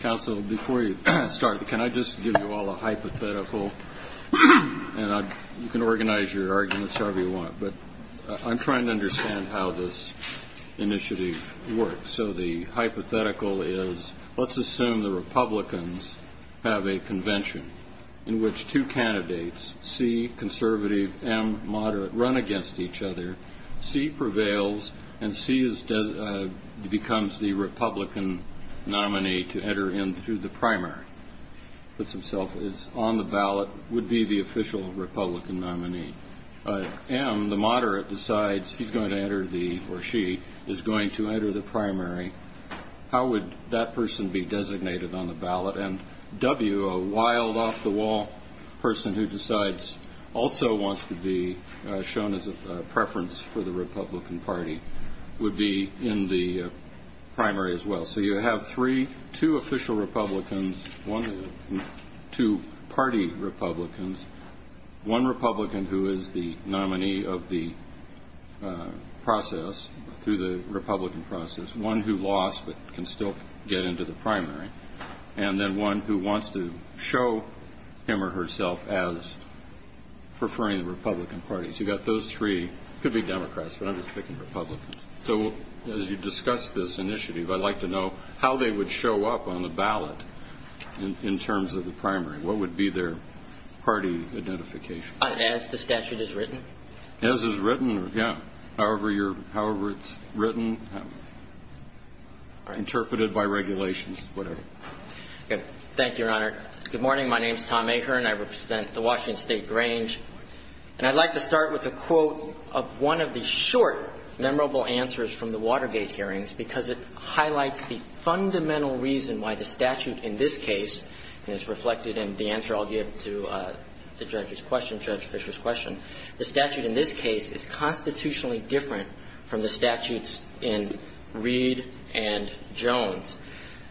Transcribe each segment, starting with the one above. Council, before you start, can I just give you all a hypothetical, and you can organize your arguments however you want, but I'm trying to understand how this initiative works. So the hypothetical is, let's assume the Republicans have a convention in which two candidates, C, conservative, M, moderate, run against each other. C prevails, and C becomes the Republican nominee to enter into the primary. Puts himself on the ballot, would be the official Republican nominee. M, the moderate, decides he's going to enter the, or she, is going to enter the primary. How would that person be designated on the ballot? And W, a wild off-the-wall person who decides, also wants to be shown as a preference for the Republican Party, would be in the primary as well. So you have three, two official Republicans, two party Republicans, one Republican who is the nominee of the process, through the Republican process, one who lost but can still get into the primary, and then one who wants to show him or herself as preferring the Republican Party. So you've got those three, could be Democrats, but I'm just picking Republicans. So as you discuss this initiative, I'd like to know how they would show up on the ballot in terms of the primary. What would be their party identification? As the statute is written? As is written, yeah. However you're, however it's written, interpreted by regulations, whatever. Okay. Thank you, Your Honor. Good morning. My name is Tom Ahern. I represent the Washington State Grange. And I'd like to start with a quote of one of the short, memorable answers from the Watergate hearings, because it highlights the fundamental reason why the statute in this case, and it's reflected in the answer I'll give to the judge's question, Judge Fisher's question, the statute in this case is constitutionally different from the statutes in Reed and Jones.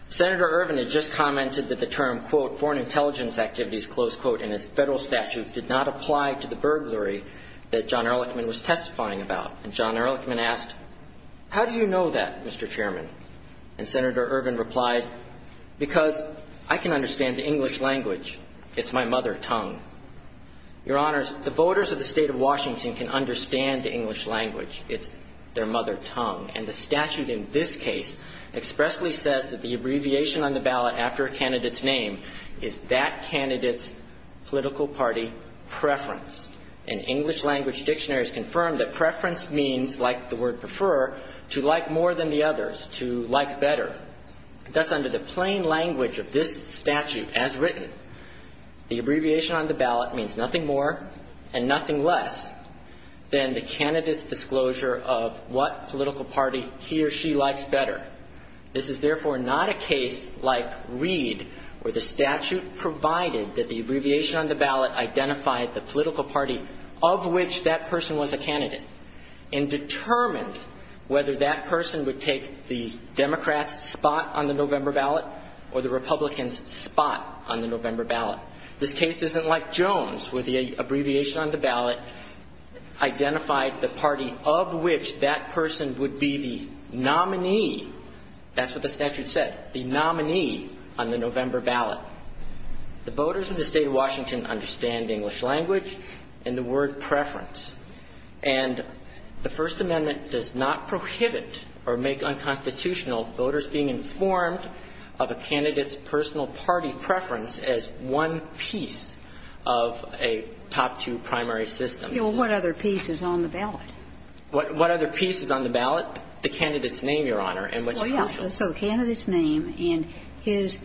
Senator Ervin had just commented that the term, quote, foreign intelligence activities, close quote, in his federal statute did not apply to the burglary that John Ehrlichman was testifying about. And John Ehrlichman asked, how do you know that, Mr. Chairman? And Senator Ervin replied, because I can understand the English language. It's my mother tongue. Your Honors, the voters of the state of Washington can understand the English language. It's their mother tongue. And the statute in this case expressly says that the abbreviation on the ballot after a candidate's name is that candidate's political party preference. And English language dictionaries confirm that preference means, like the word prefer, to like more than the others, to like better. Thus, under the plain language of this statute as written, the abbreviation on the ballot means nothing more and nothing less than the candidate's disclosure of what political party he or she likes better. This is therefore not a case like Reed, where the statute provided that the abbreviation on the ballot identified the political party of which that person was a candidate and determined whether that person would take the Democrats' spot on the November ballot or the Republicans' spot on the November ballot. This case isn't like Jones, where the abbreviation on the ballot identified the party of which that person would be the nominee, that's what the statute said, the nominee on the November ballot. The voters of the state of Washington understand the English language and the word preference. And the First Amendment does not prohibit or make unconstitutional voters being of a top two primary system. You know, what other piece is on the ballot? What other piece is on the ballot? The candidate's name, Your Honor, and what's crucial. Well, yeah. So the candidate's name and his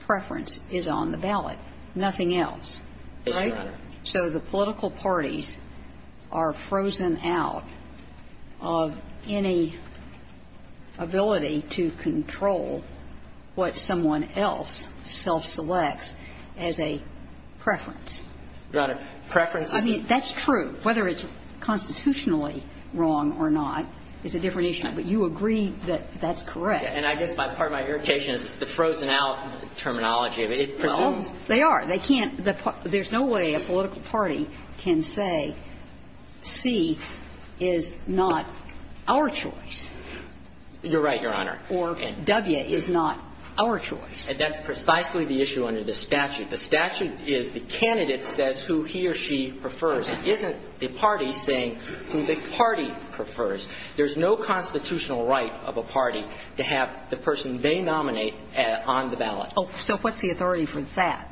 preference is on the ballot, nothing else, right? Yes, Your Honor. So the political parties are frozen out of any ability to control what someone else self-selects as a preference. Your Honor, preference is the ---- I mean, that's true. Whether it's constitutionally wrong or not is a different issue. But you agree that that's correct. And I guess part of my irritation is the frozen out terminology. It presumes ---- Well, they are. They can't ---- there's no way a political party can say C is not our choice. You're right, Your Honor. And that's precisely the issue under the statute. The statute is the candidate says who he or she prefers. It isn't the party saying who the party prefers. There's no constitutional right of a party to have the person they nominate on the ballot. Oh, so what's the authority for that?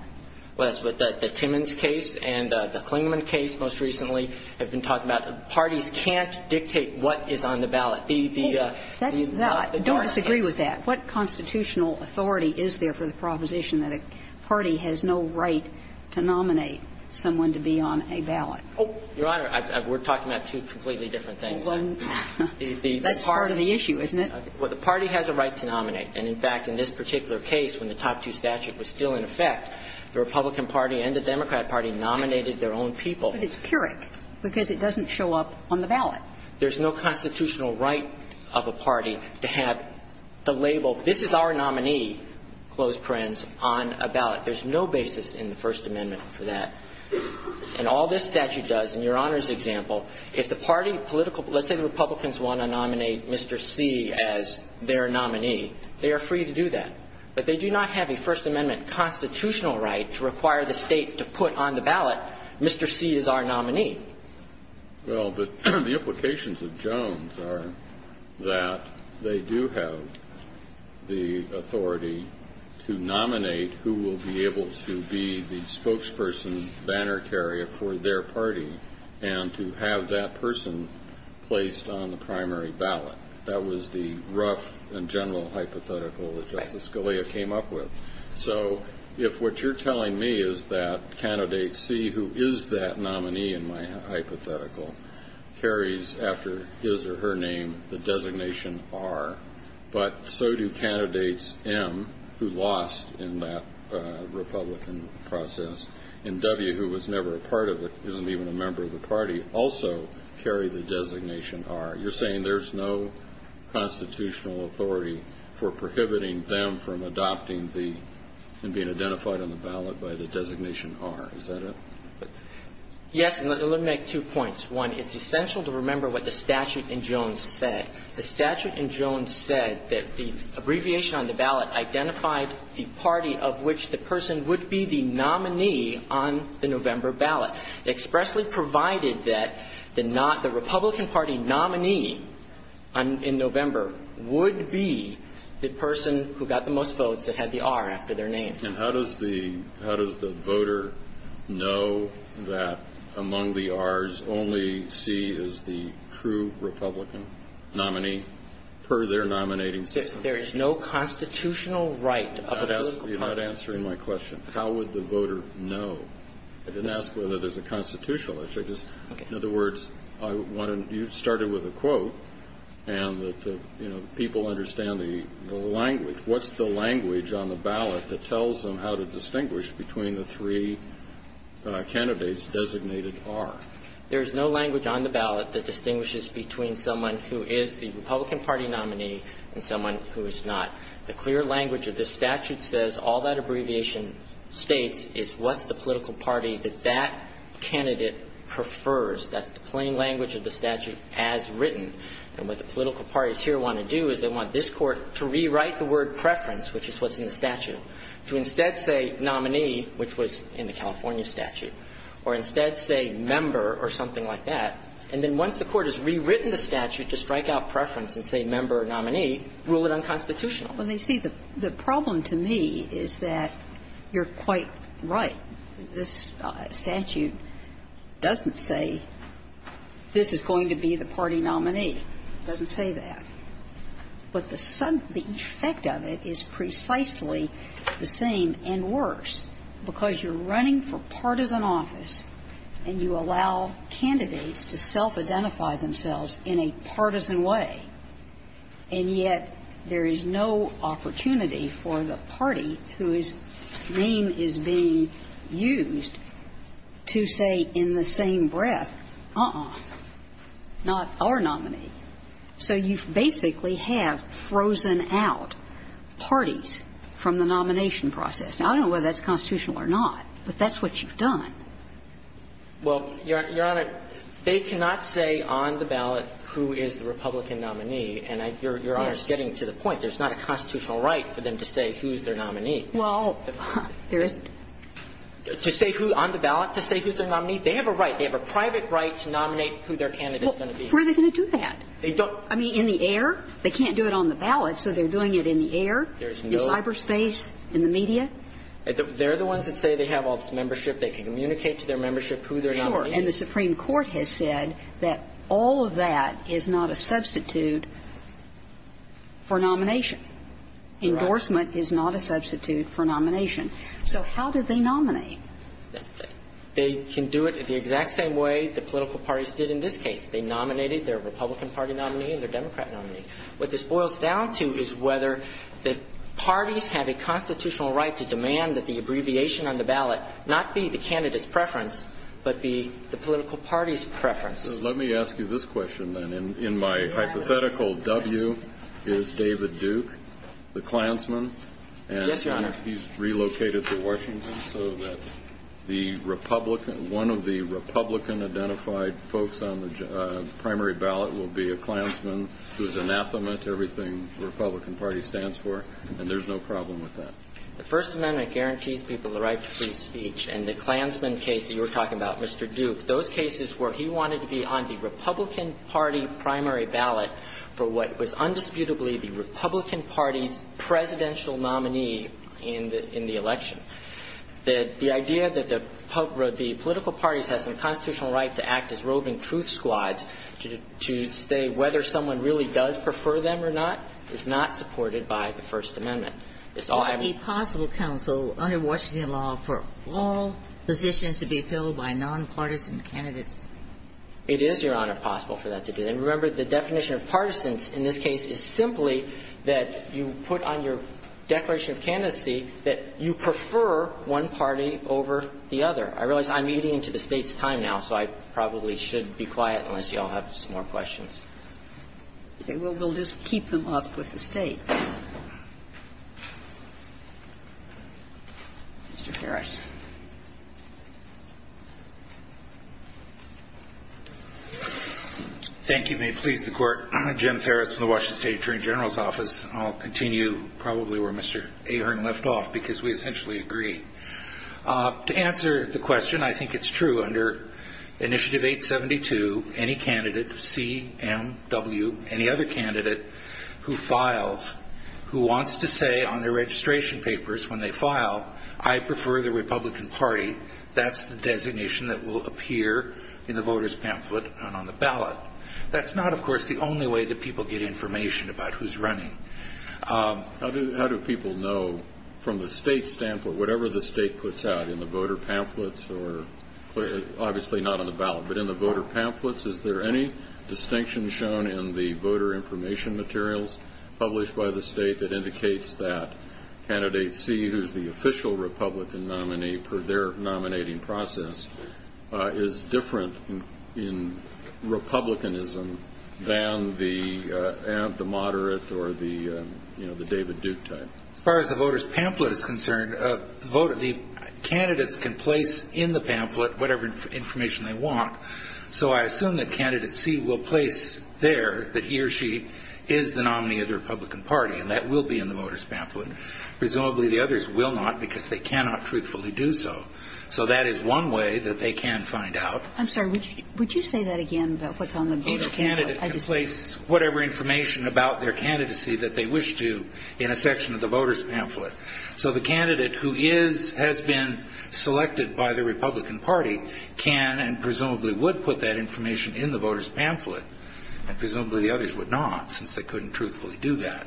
Well, that's what the Timmons case and the Klingman case most recently have been talking about. Parties can't dictate what is on the ballot. The ---- That's not the case. I don't disagree with that. What constitutional authority is there for the proposition that a party has no right to nominate someone to be on a ballot? Oh, Your Honor, we're talking about two completely different things. Well, that's part of the issue, isn't it? Well, the party has a right to nominate. And, in fact, in this particular case, when the top two statute was still in effect, the Republican Party and the Democrat Party nominated their own people. But it's pyrrhic because it doesn't show up on the ballot. There's no constitutional right of a party to have the label, this is our nominee, close parens, on a ballot. There's no basis in the First Amendment for that. And all this statute does, in Your Honor's example, if the party political ---- let's say the Republicans want to nominate Mr. C as their nominee, they are free to do that. But they do not have a First Amendment constitutional right to require the State to put on the ballot, Mr. C is our nominee. Well, but the implications of Jones are that they do have the authority to nominate who will be able to be the spokesperson banner carrier for their party and to have that person placed on the primary ballot. That was the rough and general hypothetical that Justice Scalia came up with. So if what you're telling me is that Candidate C, who is that nominee in my hypothetical, carries after his or her name the designation R, but so do Candidates M, who lost in that Republican process, and W, who was never a part of it, isn't even a member of the party, also carry the designation R, you're saying there's no constitutional authority for prohibiting them from adopting the ---- and being identified on the ballot by the designation R. Is that it? Yes. And let me make two points. One, it's essential to remember what the statute in Jones said. The statute in Jones said that the abbreviation on the ballot identified the party of which the person would be the nominee on the November ballot, expressly provided that the not the Republican Party nominee in November would be the person who got the most votes that had the R after their name. And how does the voter know that among the R's only C is the true Republican nominee per their nominating system? There is no constitutional right of a political party. You're not answering my question. How would the voter know? I didn't ask whether there's a constitutional issue. I just, in other words, I want to ---- you started with a quote, and that, you know, people understand the language. What's the language on the ballot that tells them how to distinguish between the three candidates designated R? There is no language on the ballot that distinguishes between someone who is the Republican Party nominee and someone who is not. The clear language of this statute says all that abbreviation states is what's the prefers. That's the plain language of the statute as written. And what the political parties here want to do is they want this Court to rewrite the word preference, which is what's in the statute, to instead say nominee, which was in the California statute, or instead say member or something like that. And then once the Court has rewritten the statute to strike out preference and say member or nominee, rule it unconstitutional. Well, you see, the problem to me is that you're quite right. This statute doesn't say this is going to be the party nominee. It doesn't say that. But the effect of it is precisely the same and worse, because you're running for partisan office and you allow candidates to self-identify themselves in a partisan way, and yet there is no opportunity for the party whose name is being used to say in the same breath, uh-uh, not our nominee. So you basically have frozen out parties from the nomination process. Now, I don't know whether that's constitutional or not, but that's what you've done. Well, Your Honor, they cannot say on the ballot who is the Republican nominee. And Your Honor is getting to the point. There's not a constitutional right for them to say who's their nominee. Well, there isn't. To say who on the ballot, to say who's their nominee, they have a right. They have a private right to nominate who their candidate is going to be. Well, where are they going to do that? They don't. I mean, in the air? They can't do it on the ballot, so they're doing it in the air, in cyberspace, in the media? They can communicate to their membership who their nominee is. And the Supreme Court has said that all of that is not a substitute for nomination. Endorsement is not a substitute for nomination. So how do they nominate? They can do it the exact same way the political parties did in this case. They nominated their Republican Party nominee and their Democrat nominee. What this boils down to is whether the parties have a constitutional right to demand that the abbreviation on the ballot not be the candidate's preference, but be the political party's preference. So let me ask you this question, then. In my hypothetical, W is David Duke, the Klansman. Yes, Your Honor. And he's relocated to Washington so that the Republican, one of the Republican-identified folks on the primary ballot will be a Klansman who is anathema to everything the Republican Party stands for. And there's no problem with that. The First Amendment guarantees people the right to free speech. And the Klansman case that you were talking about, Mr. Duke, those cases where he wanted to be on the Republican Party primary ballot for what was undisputably the Republican Party's presidential nominee in the election. The idea that the political parties have some constitutional right to act as roving truth squads to say whether someone really does prefer them or not is not supported by the First Amendment. It's all I'm saying. A possible counsel under Washington law for all positions to be filled by nonpartisan It is, Your Honor, possible for that to be. And remember, the definition of partisans in this case is simply that you put on your declaration of candidacy that you prefer one party over the other. I realize I'm eating into the State's time now, so I probably should be quiet unless you all have some more questions. Okay. Well, we'll just keep them up with the State. Mr. Harris. Thank you. May it please the Court. Jim Harris from the Washington State Attorney General's Office. I'll continue probably where Mr. Ahern left off, because we essentially agree. To answer the question, I think it's true under Initiative 872, any candidate, C, M, W, any other candidate who files, who wants to say on their registration papers when they file, I prefer the Republican Party, that's the designation that will appear in the voters pamphlet and on the ballot. That's not, of course, the only way that people get information about who's running. How do people know from the State's standpoint, whatever the State puts out in the voter pamphlets, or obviously not on the ballot, but in the voter pamphlets, is there any distinction shown in the voter information materials published by the State that indicates that candidate C, who's the official Republican nominee per their nominating process, is different in Republicanism than the moderate or the David Duke type? As far as the voter's pamphlet is concerned, the candidates can place in the pamphlet whatever information they want. So I assume that candidate C will place there that he or she is the nominee of the Republican Party, and that will be in the voter's pamphlet. Presumably, the others will not, because they cannot truthfully do so. So that is one way that they can find out. I'm sorry. Would you say that again about what's on the voter pamphlet? Each candidate can place whatever information about their candidacy that they wish to in a section of the voter's pamphlet. So the candidate who is, has been selected by the Republican Party can and presumably would put that information in the voter's pamphlet, and presumably the others would not, since they couldn't truthfully do that.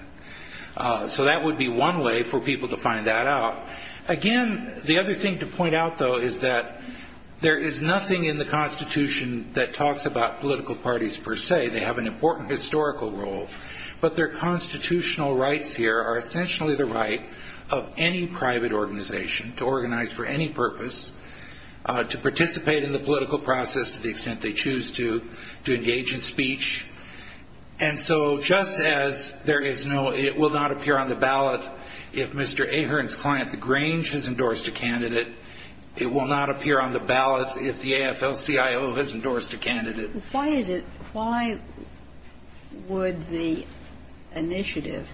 So that would be one way for people to find that out. Again, the other thing to point out, though, is that there is nothing in the Constitution that talks about political parties per se. They have an important historical role. But their constitutional rights here are essentially the right of any private organization to organize for any purpose, to participate in the political process to the extent they choose to, to engage in speech. And so just as there is no, it will not appear on the ballot if Mr. Ahern's client, the Grange, has endorsed a candidate, it will not appear on the ballot if the AFL-CIO has endorsed a candidate. But why is it, why would the initiative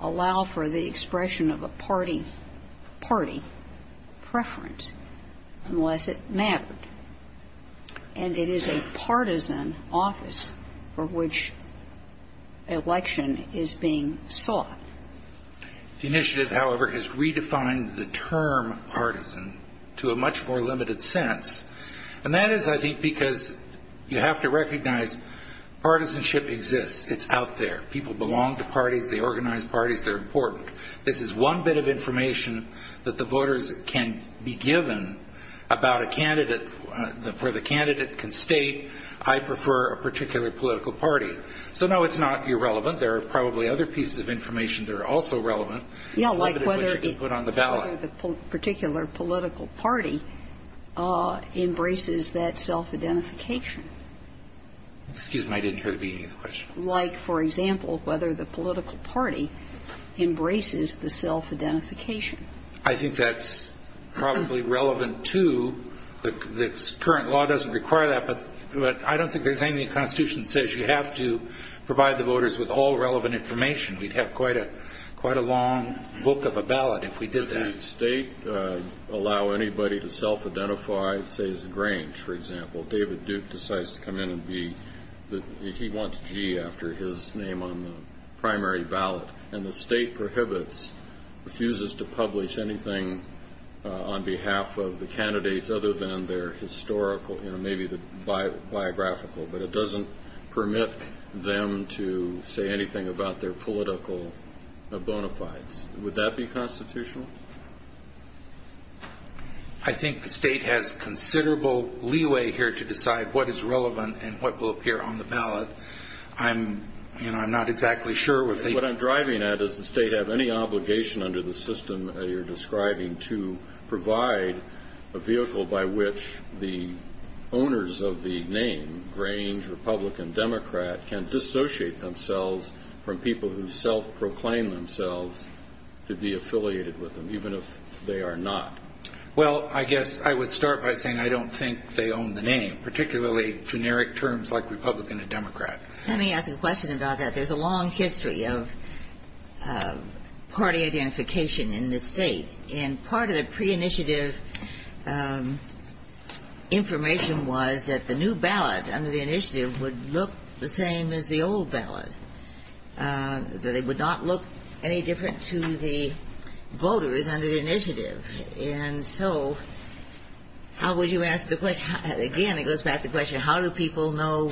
allow for the expression of a party, party preference unless it mattered? And it is a partisan office for which election is being sought. The initiative, however, has redefined the term partisan to a much more limited sense. And that is, I think, because you have to recognize partisanship exists. It's out there. People belong to parties. They organize parties. They're important. This is one bit of information that the voters can be given about a candidate, where the candidate can state, I prefer a particular political party. So, no, it's not irrelevant. There are probably other pieces of information that are also relevant. It's limited to what you can put on the ballot. The particular political party embraces that self-identification. Excuse me, I didn't hear the beginning of the question. Like, for example, whether the political party embraces the self-identification. I think that's probably relevant, too. The current law doesn't require that, but I don't think there's anything in the Constitution that says you have to provide the voters with all relevant information. We'd have quite a long book of a ballot if we did that. Does the state allow anybody to self-identify, say, as Grange, for example? David Duke decides to come in and be, he wants G after his name on the primary ballot. And the state prohibits, refuses to publish anything on behalf of the candidates other than their historical, maybe the biographical, but it doesn't permit them to say anything about their political bona fides. Would that be constitutional? I think the state has considerable leeway here to decide what is relevant and what will appear on the ballot. I'm, you know, I'm not exactly sure if they... What I'm driving at is the state have any obligation under the system that you're describing to provide a vehicle by which the owners of the name, Grange, Republican, Democrat, can dissociate themselves from people who self-proclaim themselves to be affiliated with them, even if they are not. Well, I guess I would start by saying I don't think they own the name, particularly generic terms like Republican and Democrat. Let me ask a question about that. There's a long history of party identification in this State. And part of the pre-initiative information was that the new ballot under the initiative would look the same as the old ballot, that it would not look any different to the voters under the initiative. And so how would you ask the question, again, it goes back to the question, how do people know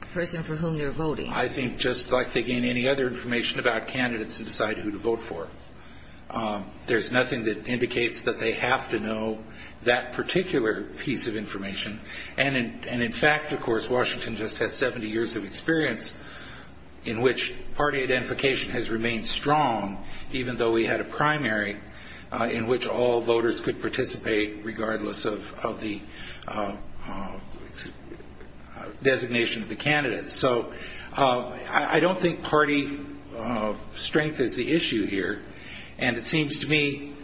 the person for whom they're voting? I think just like they gain any other information about candidates and decide who to vote for. There's nothing that indicates that they have to know that particular piece of information. And in fact, of course, Washington just has 70 years of experience in which party identification has remained strong, even though we had a primary in which all voters could participate regardless of the designation of the candidates. So I don't think party strength is the issue here. And it seems to me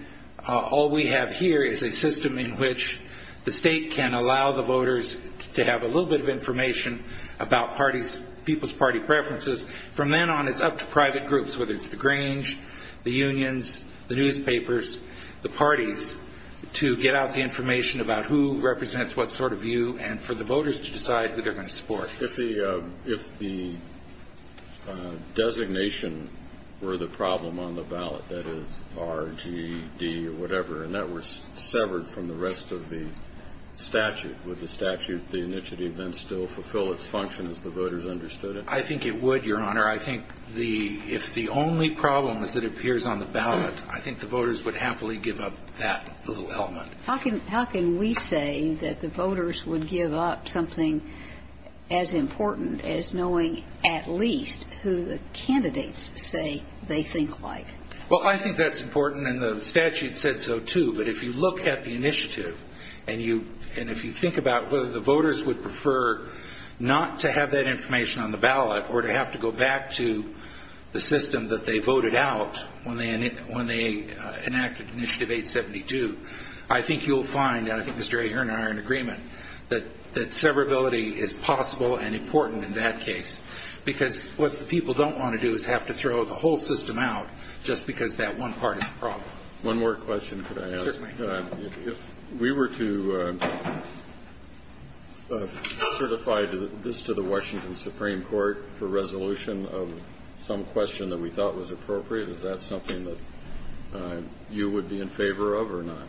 all we have here is a system in which the State can allow the voters to have a little bit of information about people's party preferences. From then on, it's up to private groups, whether it's the Grange, the unions, the newspapers, the parties, to get out the information about who represents what sort of view and for the voters to decide who they're going to support. If the designation were the problem on the ballot, that is R, G, D, or whatever, and that were severed from the rest of the statute, would the statute, the initiative then still fulfill its function as the voters understood it? I think it would, Your Honor. I think if the only problem is that it appears on the ballot, I think the voters would happily give up that little element. How can we say that the voters would give up something as important as knowing at least who the candidates say they think like? Well, I think that's important, and the statute said so, too. But if you look at the initiative and if you think about whether the voters would prefer not to have that information on the ballot or to have to go back to the system that they voted out when they enacted initiative 872, I think you'll find, and I think Mr. A, you and I are in agreement, that severability is possible and important in that case. Because what the people don't want to do is have to throw the whole system out just because that one part is a problem. One more question, could I ask? Certainly. If we were to certify this to the Washington Supreme Court for resolution of some question that we thought was appropriate, is that something that you would be in favor of or not?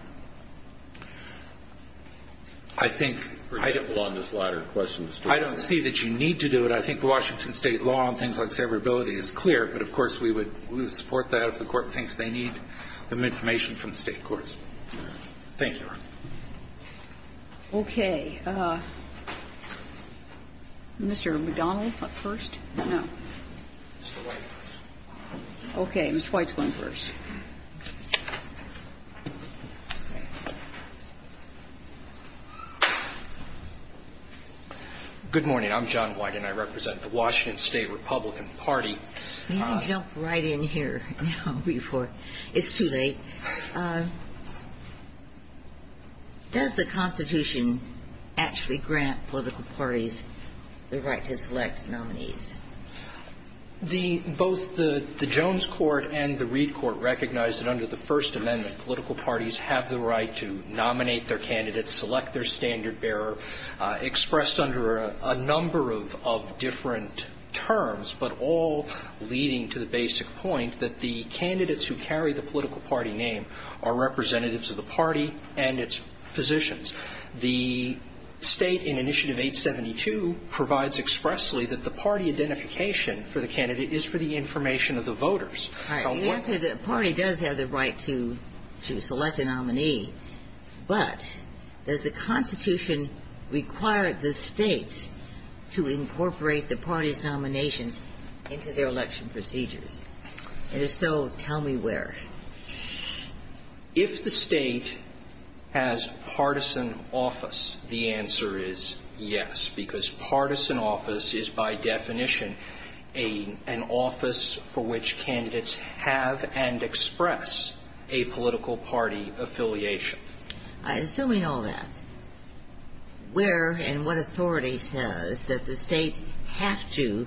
I think I don't see that you need to do it. I think the Washington state law on things like severability is clear, but of course we would support that if the court thinks they need some information from the state courts. Thank you. Okay, Mr. McDonald first? Okay, Mr. White's going first. Good morning, I'm John White and I represent the Washington State Republican Party. Let me jump right in here now before it's too late. Does the Constitution actually grant political parties the right to select nominees? Both the Jones Court and the Reed Court recognize that under the First Amendment, political parties have the right to nominate their candidates, select their standard bearer, expressed under a number of different terms, but all leading to the basic point that the candidates who carry the political party name are representatives of the party and its positions. The state in initiative 872 provides expressly that the party identification for the candidate is for the information of the voters. The party does have the right to select a nominee, but does the Constitution require the states to incorporate the party's nominations into their election procedures? And if so, tell me where? If the state has partisan office, the answer is yes, because partisan office is by definition an office for which candidates have and express a political party affiliation. Assuming all that, where and what authority says that the states have to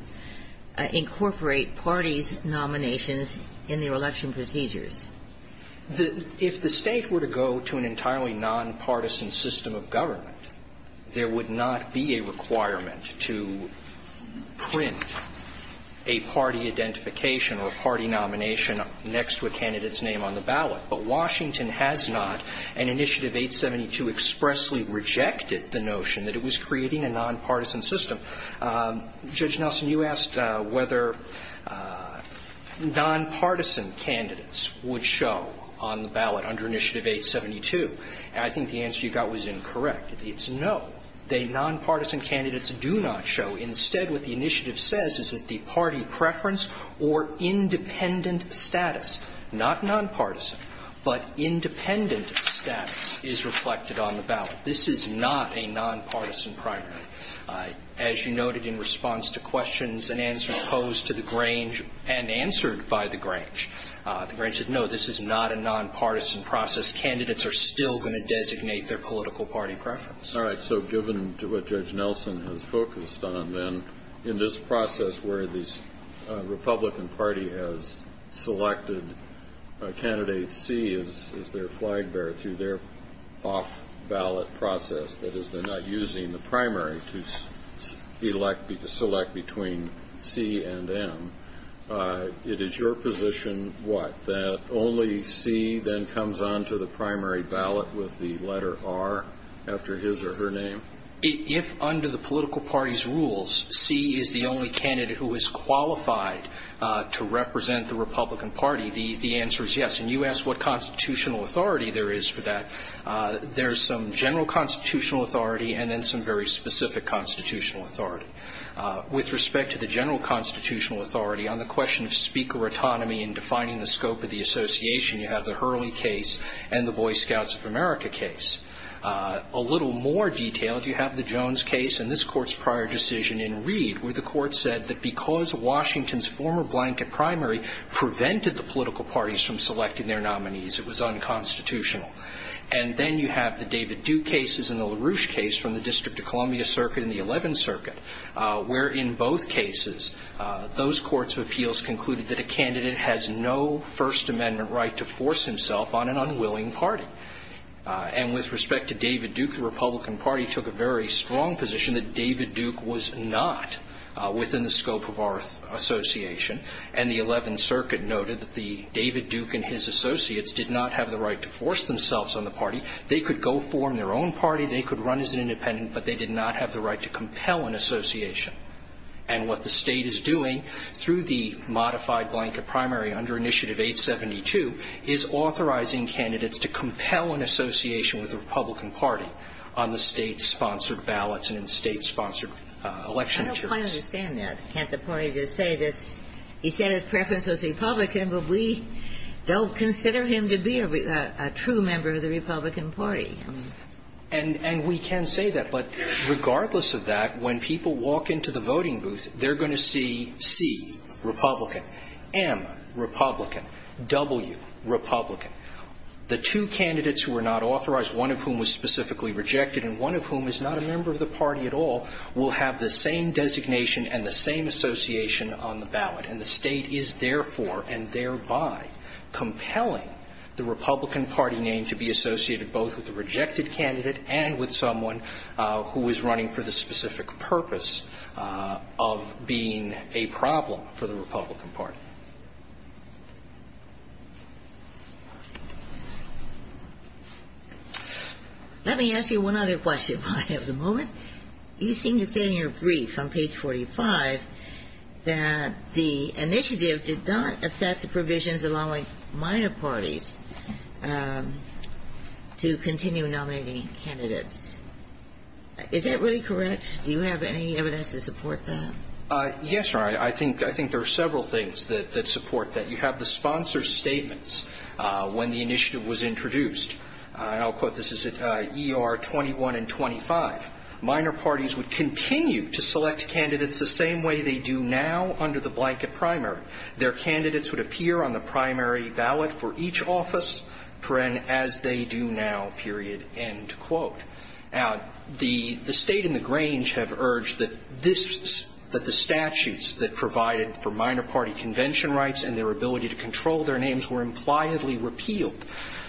incorporate parties' nominations in their election procedures? If the state were to go to an entirely nonpartisan system of government, there would not be a requirement to print a party identification or a party nomination next to a candidate's name on the ballot. But Washington has not. And initiative 872 expressly rejected the notion that it was creating a nonpartisan system. Judge Nelson, you asked whether nonpartisan candidates would show on the ballot under initiative 872. I think the answer you got was incorrect. It's no. The nonpartisan candidates do not show. Instead, what the initiative says is that the party preference or independent status, not nonpartisan, but independent status, is reflected on the ballot. This is not a nonpartisan priority. As you noted in response to questions and answers posed to the Grange and answered by the Grange, the Grange said, no, this is not a nonpartisan process. Candidates are still going to designate their political party preference. All right. So given what Judge Nelson has focused on, then, in this process where the Republican Party has selected candidate C as their flag bearer through their off-ballot process, that is, they're not using the primary to select between C and M, it is your position what? That only C then comes on to the primary ballot with the letter R after his or her name? If under the political party's rules, C is the only candidate who is qualified to represent the Republican Party, the answer is yes. And you asked what constitutional authority there is for that. There's some general constitutional authority and then some very specific constitutional authority. With respect to the general constitutional authority, on the question of speaker autonomy and defining the scope of the association, you have the Hurley case and the Boy Scouts of America case. A little more detail, if you have the Jones case and this Court's prior decision in Reed, where the Court said that because Washington's former blanket primary prevented the political parties from selecting their nominees, it was unconstitutional. And then you have the David Duke cases and the LaRouche case from the District of Columbia Circuit and the Eleventh Circuit, where in both cases, those courts of appeals concluded that a candidate has no First Amendment right to force himself on an unwilling party. And with respect to David Duke, the Republican Party took a very strong position that David Duke was not within the scope of our association. And the Eleventh Circuit noted that the David Duke and his associates did not have the right to force themselves on the party. They could go form their own party. They could run as an independent. But they did not have the right to compel an association. And what the State is doing through the modified blanket primary under Initiative 872 is authorizing candidates to compel an association with the Republican Party on the State-sponsored ballots and in State-sponsored election. Ginsburg. I don't quite understand that. Can't the party just say this? He said his preference was Republican, but we don't consider him to be a true member of the Republican Party. And we can say that. But regardless of that, when people walk into the voting booth, they're going to see C, Republican, M, Republican, W, Republican. The two candidates who are not authorized, one of whom was specifically rejected and one of whom is not a member of the party at all, will have the same designation and the same association on the ballot. And the State is therefore and thereby compelling the Republican Party name to be a rejected candidate and with someone who is running for the specific purpose of being a problem for the Republican Party. Let me ask you one other question while I have the moment. You seem to say in your brief on page 45 that the initiative did not affect the candidates. Is that really correct? Do you have any evidence to support that? Yes, Your Honor. I think there are several things that support that. You have the sponsor's statements when the initiative was introduced. And I'll quote. This is ER 21 and 25. Minor parties would continue to select candidates the same way they do now under the blanket primary. Their candidates would appear on the primary ballot for each office as they do now, period, end quote. Now, the State and the Grange have urged that the statutes that provided for minor party convention rights and their ability to control their names were impliedly repealed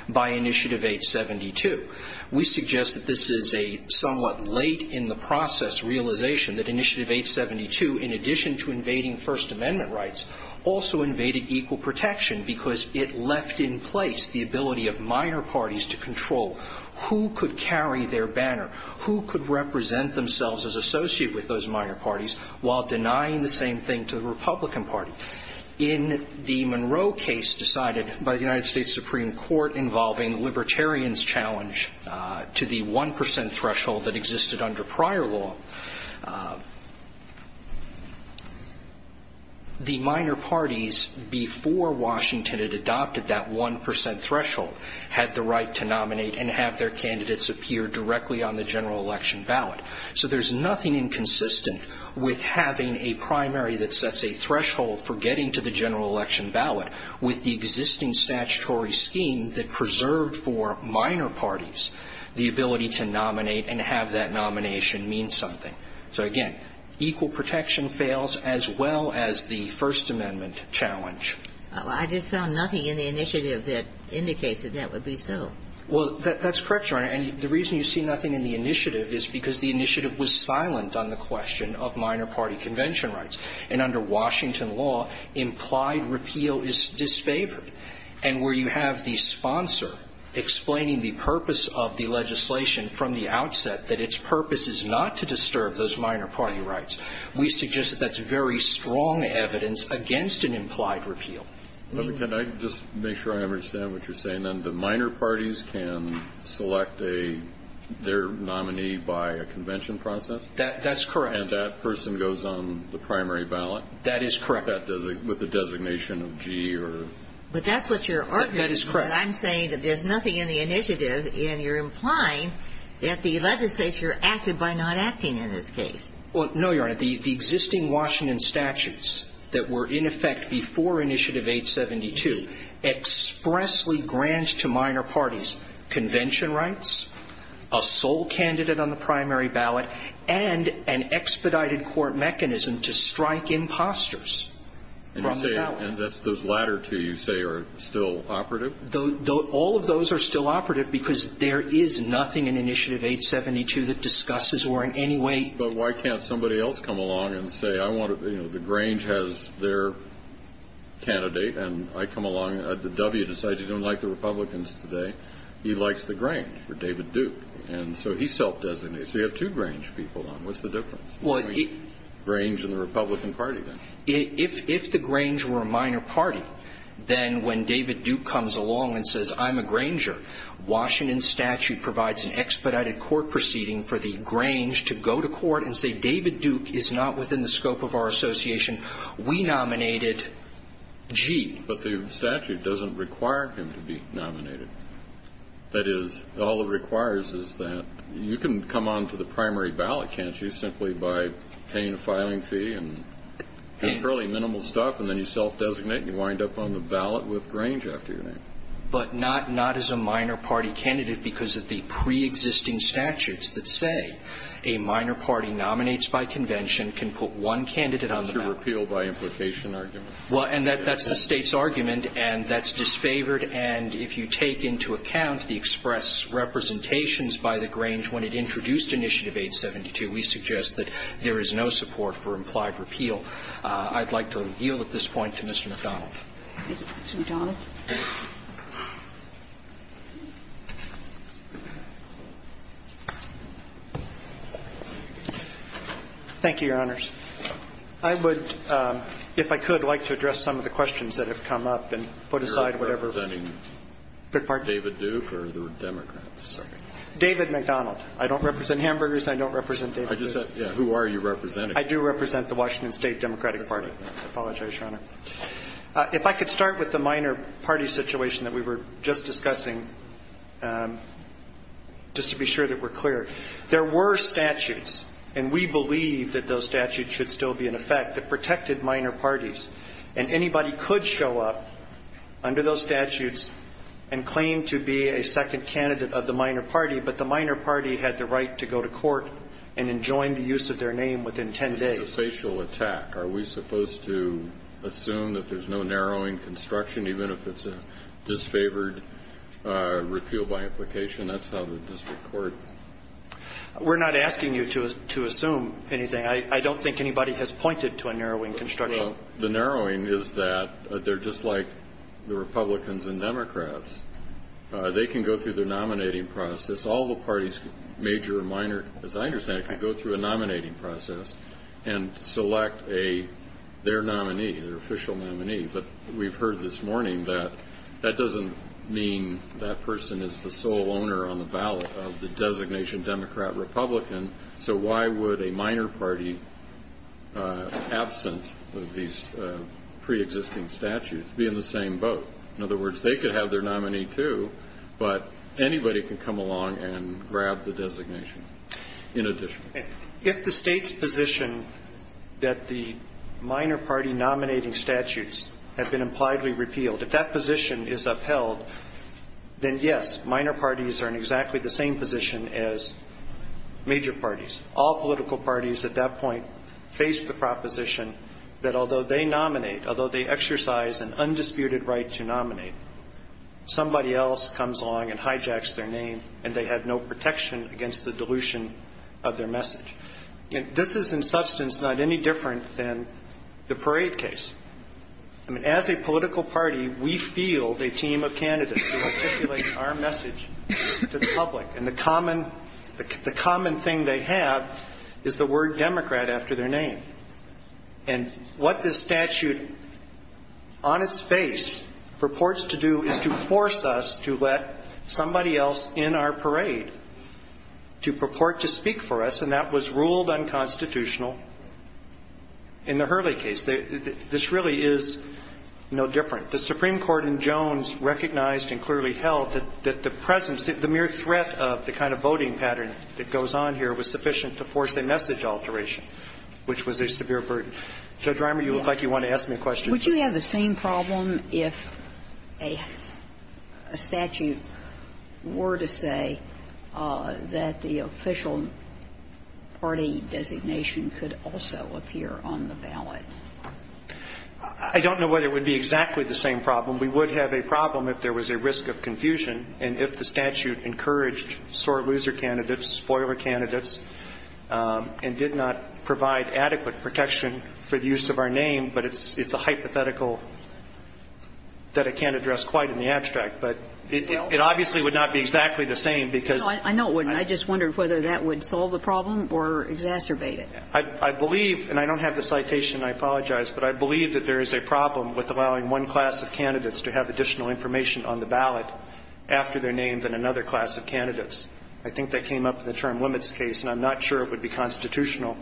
by Initiative 872. We suggest that this is a somewhat late in the process realization that Initiative 872, in addition to invading First Amendment rights, also invaded equal protection because it left in place the ability of minor parties to control who could carry their banner, who could represent themselves as associated with those minor parties while denying the same thing to the Republican Party. In the Monroe case decided by the United States Supreme Court involving libertarians challenge to the 1 percent threshold that existed under prior law, the minor parties before Washington had adopted that 1 percent threshold had the right to nominate and have their candidates appear directly on the general election ballot. So there's nothing inconsistent with having a primary that sets a threshold for getting to the general election ballot with the existing statutory scheme that preserved for minor parties the ability to nominate and have that nomination mean something. So, again, equal protection fails as well as the First Amendment challenge. I just found nothing in the initiative that indicates that that would be so. Well, that's correct, Your Honor. And the reason you see nothing in the initiative is because the initiative was silent on the question of minor party convention rights. And under Washington law, implied repeal is disfavored. And where you have the sponsor explaining the purpose of the legislation from the minor party rights, we suggest that's very strong evidence against an implied repeal. Can I just make sure I understand what you're saying? That the minor parties can select their nominee by a convention process? That's correct. And that person goes on the primary ballot? That is correct. With the designation of G or? But that's what you're arguing. That is correct. I'm saying that there's nothing in the initiative and you're implying that the No, Your Honor. The existing Washington statutes that were in effect before initiative 872 expressly grant to minor parties convention rights, a sole candidate on the primary ballot, and an expedited court mechanism to strike imposters from the ballot. And those latter two, you say, are still operative? All of those are still operative because there is nothing in initiative 872 that Why can't somebody else come along and say, I want to, you know, the Grange has their candidate and I come along. The W decides you don't like the Republicans today. He likes the Grange for David Duke. And so he self-designates. They have two Grange people on. What's the difference? Well, Grange and the Republican Party then? If the Grange were a minor party, then when David Duke comes along and says, I'm a Granger, Washington statute provides an expedited court proceeding for the Grange to go to court and say David Duke is not within the scope of our association. We nominated G. But the statute doesn't require him to be nominated. That is, all it requires is that you can come on to the primary ballot, can't you, simply by paying a filing fee and fairly minimal stuff, and then you self-designate and you wind up on the ballot with Grange after your name. But not as a minor party candidate because of the preexisting statutes that say a minor party nominates by convention can put one candidate on the ballot. That's your repeal by implication argument. Well, and that's the State's argument, and that's disfavored. And if you take into account the express representations by the Grange when it introduced Initiative 872, we suggest that there is no support for implied repeal. I'd like to reveal at this point to Mr. McDonald. Thank you, Your Honors. I would, if I could, like to address some of the questions that have come up and put aside whatever. You're representing David Duke or the Democrats? David McDonald. I don't represent hamburgers, and I don't represent David Duke. I just thought, yeah, who are you representing? I do represent the Washington State Democratic Party. some of the questions that have come up. If I could start with the minor party situation that we were just discussing, just to be sure that we're clear. There were statutes, and we believe that those statutes should still be in effect, that protected minor parties. And anybody could show up under those statutes and claim to be a second candidate of the minor party, but the minor party had the right to go to court and enjoin the use of their name within 10 days. It's a facial attack. Are we supposed to assume that there's no narrowing construction, even if it's a disfavored repeal by implication? That's how the district court. We're not asking you to assume anything. I don't think anybody has pointed to a narrowing construction. The narrowing is that they're just like the Republicans and Democrats. They can go through their nominating process. All the parties, major or minor, as I understand it, can go through a nominating process and select their nominee, their official nominee. But we've heard this morning that that doesn't mean that person is the sole owner on the ballot of the designation Democrat-Republican. So why would a minor party, absent of these pre-existing statutes, be in the same boat? In other words, they could have their nominee too, but anybody can come along and grab the designation in addition. If the state's position that the minor party nominating statutes have been impliedly repealed, if that position is upheld, then yes, minor parties are in exactly the same position as major parties. All political parties at that point face the proposition that although they nominate, although they exercise an undisputed right to nominate, somebody else comes along and This is in substance not any different than the parade case. As a political party, we field a team of candidates who articulate our message to the public, and the common thing they have is the word Democrat after their name. And what this statute, on its face, purports to do is to force us to let somebody else in our parade to purport to speak for us. And that was ruled unconstitutional in the Hurley case. This really is no different. The Supreme Court in Jones recognized and clearly held that the presence, the mere threat of the kind of voting pattern that goes on here was sufficient to force a message alteration, which was a severe burden. Judge Reimer, you look like you want to ask me a question. Would you have the same problem if a statute were to say that the official party designation could also appear on the ballot? I don't know whether it would be exactly the same problem. We would have a problem if there was a risk of confusion and if the statute encouraged sore loser candidates, spoiler candidates, and did not provide adequate protection for the use of our name, but it's a hypothetical that I can't address quite in the abstract. But it obviously would not be exactly the same because of the risk of confusion. I know it wouldn't. I just wondered whether that would solve the problem or exacerbate it. I believe, and I don't have the citation, I apologize, but I believe that there is a problem with allowing one class of candidates to have additional information on the ballot after their name than another class of candidates. I think that came up in the term limits case, and I'm not sure it would be constitutional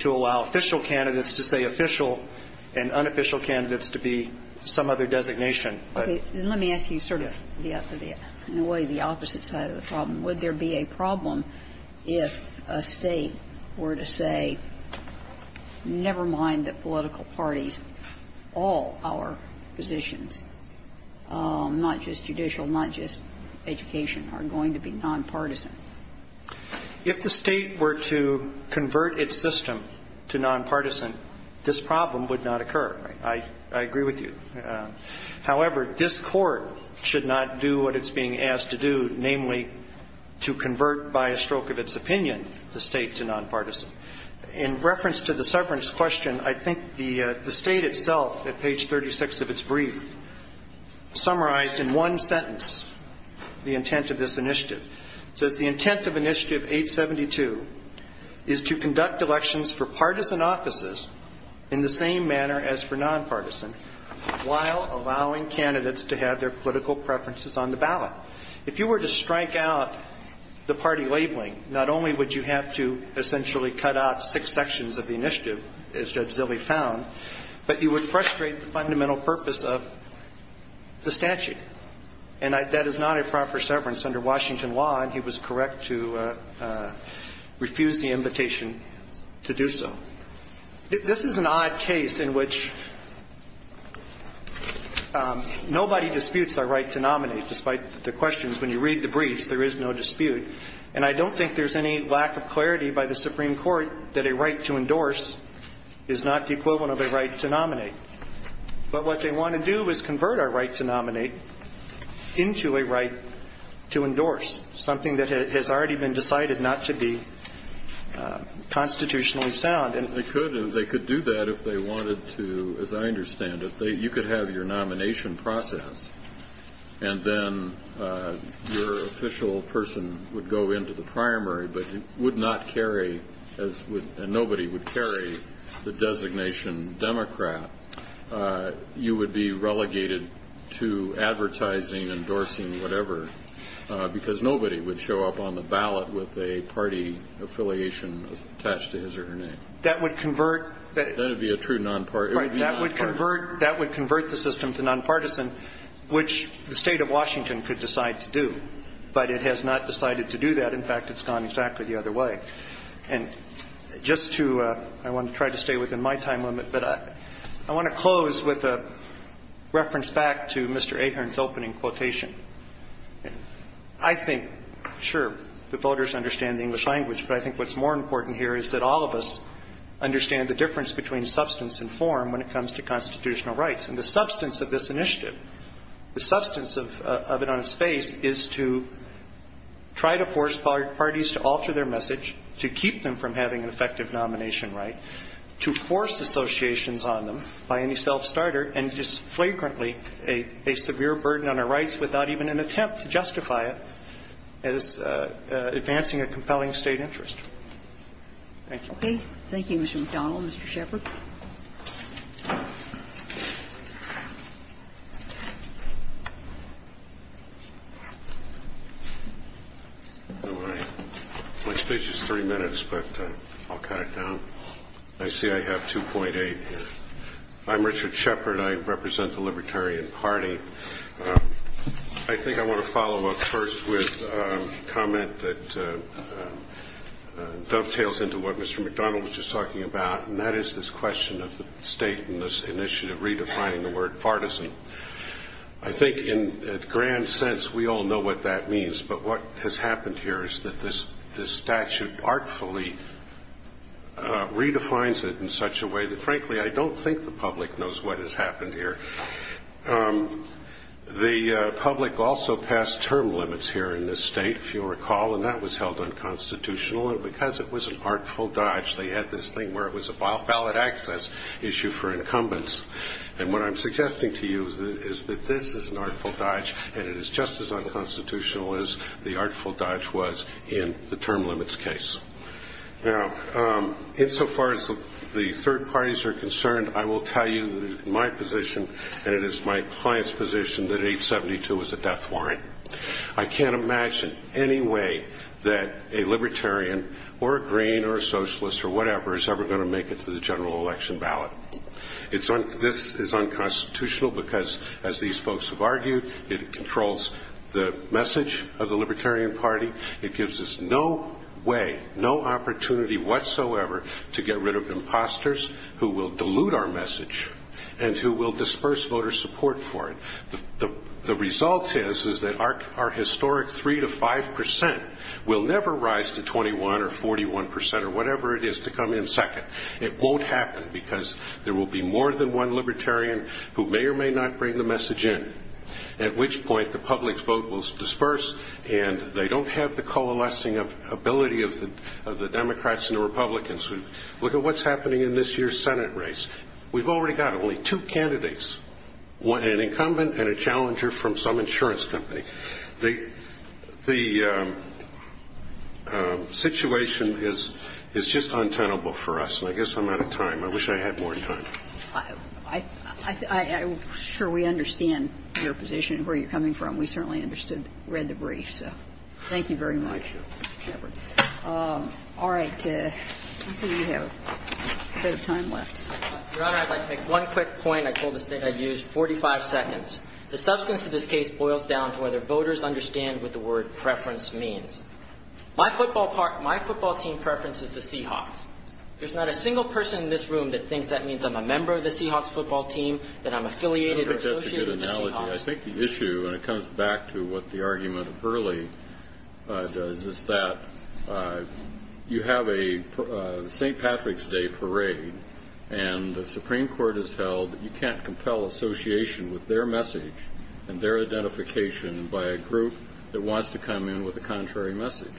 to allow official candidates to say official and unofficial candidates to be some other designation. Okay. Then let me ask you sort of the opposite side of the problem. Would there be a problem if a State were to say, never mind the political parties, all our positions, not just judicial, not just education, are going to be nonpartisan? If the State were to convert its system to nonpartisan, this problem would not occur. I agree with you. However, this Court should not do what it's being asked to do, namely to convert by a stroke of its opinion the State to nonpartisan. In reference to the severance question, I think the State itself at page 36 of its brief summarized in one sentence the intent of this initiative. It says, the intent of initiative 872 is to conduct elections for partisan offices in the same manner as for nonpartisan while allowing candidates to have their political preferences on the ballot. If you were to strike out the party labeling, not only would you have to essentially cut out six sections of the initiative, as Judge Zilley found, but you would frustrate the statute. And that is not a proper severance under Washington law, and he was correct to refuse the invitation to do so. This is an odd case in which nobody disputes their right to nominate, despite the questions. When you read the briefs, there is no dispute. And I don't think there's any lack of clarity by the Supreme Court that a right to endorse is not the equivalent of a right to nominate. But what they want to do is convert our right to nominate into a right to endorse, something that has already been decided not to be constitutionally sound. And they could do that if they wanted to, as I understand it. You could have your nomination process, and then your official person would go into the You would be relegated to advertising, endorsing, whatever, because nobody would show up on the ballot with a party affiliation attached to his or her name. That would convert That would be a true nonpartisan Right. That would convert the system to nonpartisan, which the State of Washington could decide to do. But it has not decided to do that. In fact, it's gone exactly the other way. And just to, I want to try to stay within my time limit, but I want to close with a reference back to Mr. Ahearn's opening quotation. I think, sure, the voters understand the English language, but I think what's more important here is that all of us understand the difference between substance and form when it comes to constitutional rights. And the substance of this initiative, the substance of it on its face is to try to force parties to alter their message, to keep them from having an effective nomination right, to force associations on them by any self-starter, and just flagrantly a severe burden on our rights without even an attempt to justify it as advancing a compelling State interest. Thank you. Okay. Thank you, Mr. McDonnell. Mr. Shepard. My speech is three minutes, but I'll cut it down. I see I have 2.8. I'm Richard Shepard. I represent the Libertarian Party. I think I want to follow up first with a comment that dovetails into what Mr. McDonnell was just talking about, and that is this question of the State and this initiative redefining the word partisan. I think in a grand sense, we all know what that means. But what has happened here is that this statute artfully redefines it in such a way that, frankly, I don't think the public knows what has happened here. The public also passed term limits here in this State, if you recall, and that was held unconstitutional. And because it was an artful dodge, they had this thing where it was a valid access issue for incumbents. And what I'm suggesting to you is that this is an artful dodge, and it is just as constitutional as the artful dodge was in the term limits case. Now, insofar as the third parties are concerned, I will tell you that in my position, and it is my client's position, that 872 is a death warrant. I can't imagine any way that a Libertarian or a Green or a Socialist or whatever is ever going to make it to the general election ballot. This is unconstitutional because, as these folks have argued, it controls the message of the Libertarian Party. It gives us no way, no opportunity whatsoever to get rid of imposters who will dilute our message and who will disperse voter support for it. The result is that our historic 3 to 5 percent will never rise to 21 or 41 percent or whatever it is to come in second. It won't happen because there will be more than one Libertarian who may or may not bring the message in, at which point the public's vote will disperse and they don't have the coalescing ability of the Democrats and the Republicans. Look at what's happening in this year's Senate race. We've already got only two candidates, an incumbent and a challenger from some insurance company. The situation is just untenable for us. And I guess I'm out of time. I wish I had more time. I'm sure we understand your position and where you're coming from. We certainly understood, read the brief. So thank you very much. All right. Let's see if we have a bit of time left. Your Honor, I'd like to make one quick point. I told the State I'd use 45 seconds. The substance of this case boils down to whether voters understand what the word preference means. My football team preference is the Seahawks. There's not a single person in this room that thinks that means I'm a member of the Seahawks football team, that I'm affiliated or associated with the Seahawks. I think that's a good analogy. I think the issue, and it comes back to what the argument of Hurley does, is that you have a St. Patrick's Day parade and the Supreme Court has held that you can't and their identification by a group that wants to come in with a contrary message.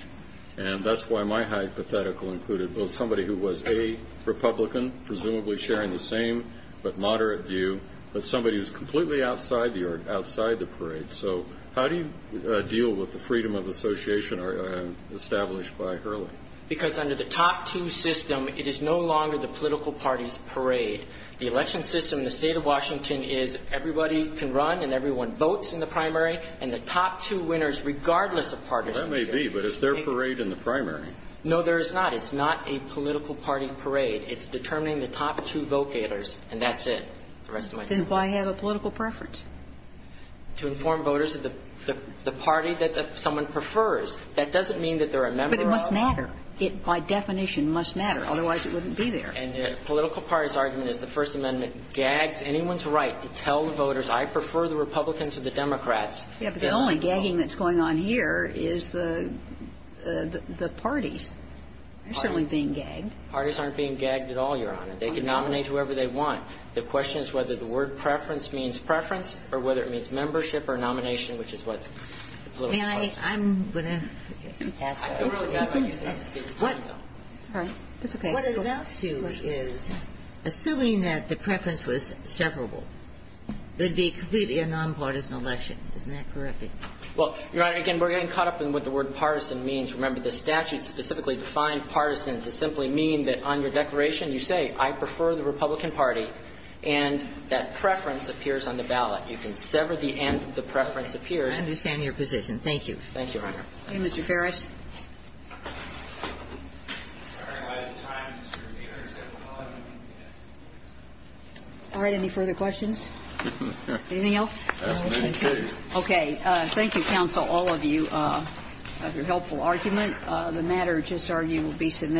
And that's why my hypothetical included somebody who was a Republican, presumably sharing the same but moderate view, but somebody who's completely outside the parade. So how do you deal with the freedom of association established by Hurley? Because under the top two system, it is no longer the political party's parade. The election system in the State of Washington is everybody can run and everyone votes in the primary, and the top two winners, regardless of partisanship. That may be, but it's their parade in the primary. No, there is not. It's not a political party parade. It's determining the top two vote-gators, and that's it. The rest of my time. Then why have a political preference? To inform voters that the party that someone prefers. That doesn't mean that they're a member of. But it must matter. It, by definition, must matter. Otherwise, it wouldn't be there. And the political party's argument is the First Amendment gags anyone's right to tell the voters, I prefer the Republicans or the Democrats. Yeah, but the only gagging that's going on here is the parties. They're certainly being gagged. Parties aren't being gagged at all, Your Honor. They can nominate whoever they want. The question is whether the word preference means preference or whether it means membership or nomination, which is what the political party says. May I? I'm going to ask that. I feel really bad about your statement. It's time, though. It's all right. It's okay. What it amounts to is, assuming that the preference was severable, it would be completely a nonpartisan election. Isn't that correct? Well, Your Honor, again, we're getting caught up in what the word partisan means. Remember, the statute specifically defined partisan to simply mean that on your declaration you say, I prefer the Republican Party, and that preference appears on the ballot. You can sever the end, the preference appears. I understand your position. Thank you. Thank you, Your Honor. Thank you, Mr. Ferris. All right. Any further questions? Anything else? Okay. Thank you, counsel, all of you, for your helpful argument. The matter, I just argue, will be submitted.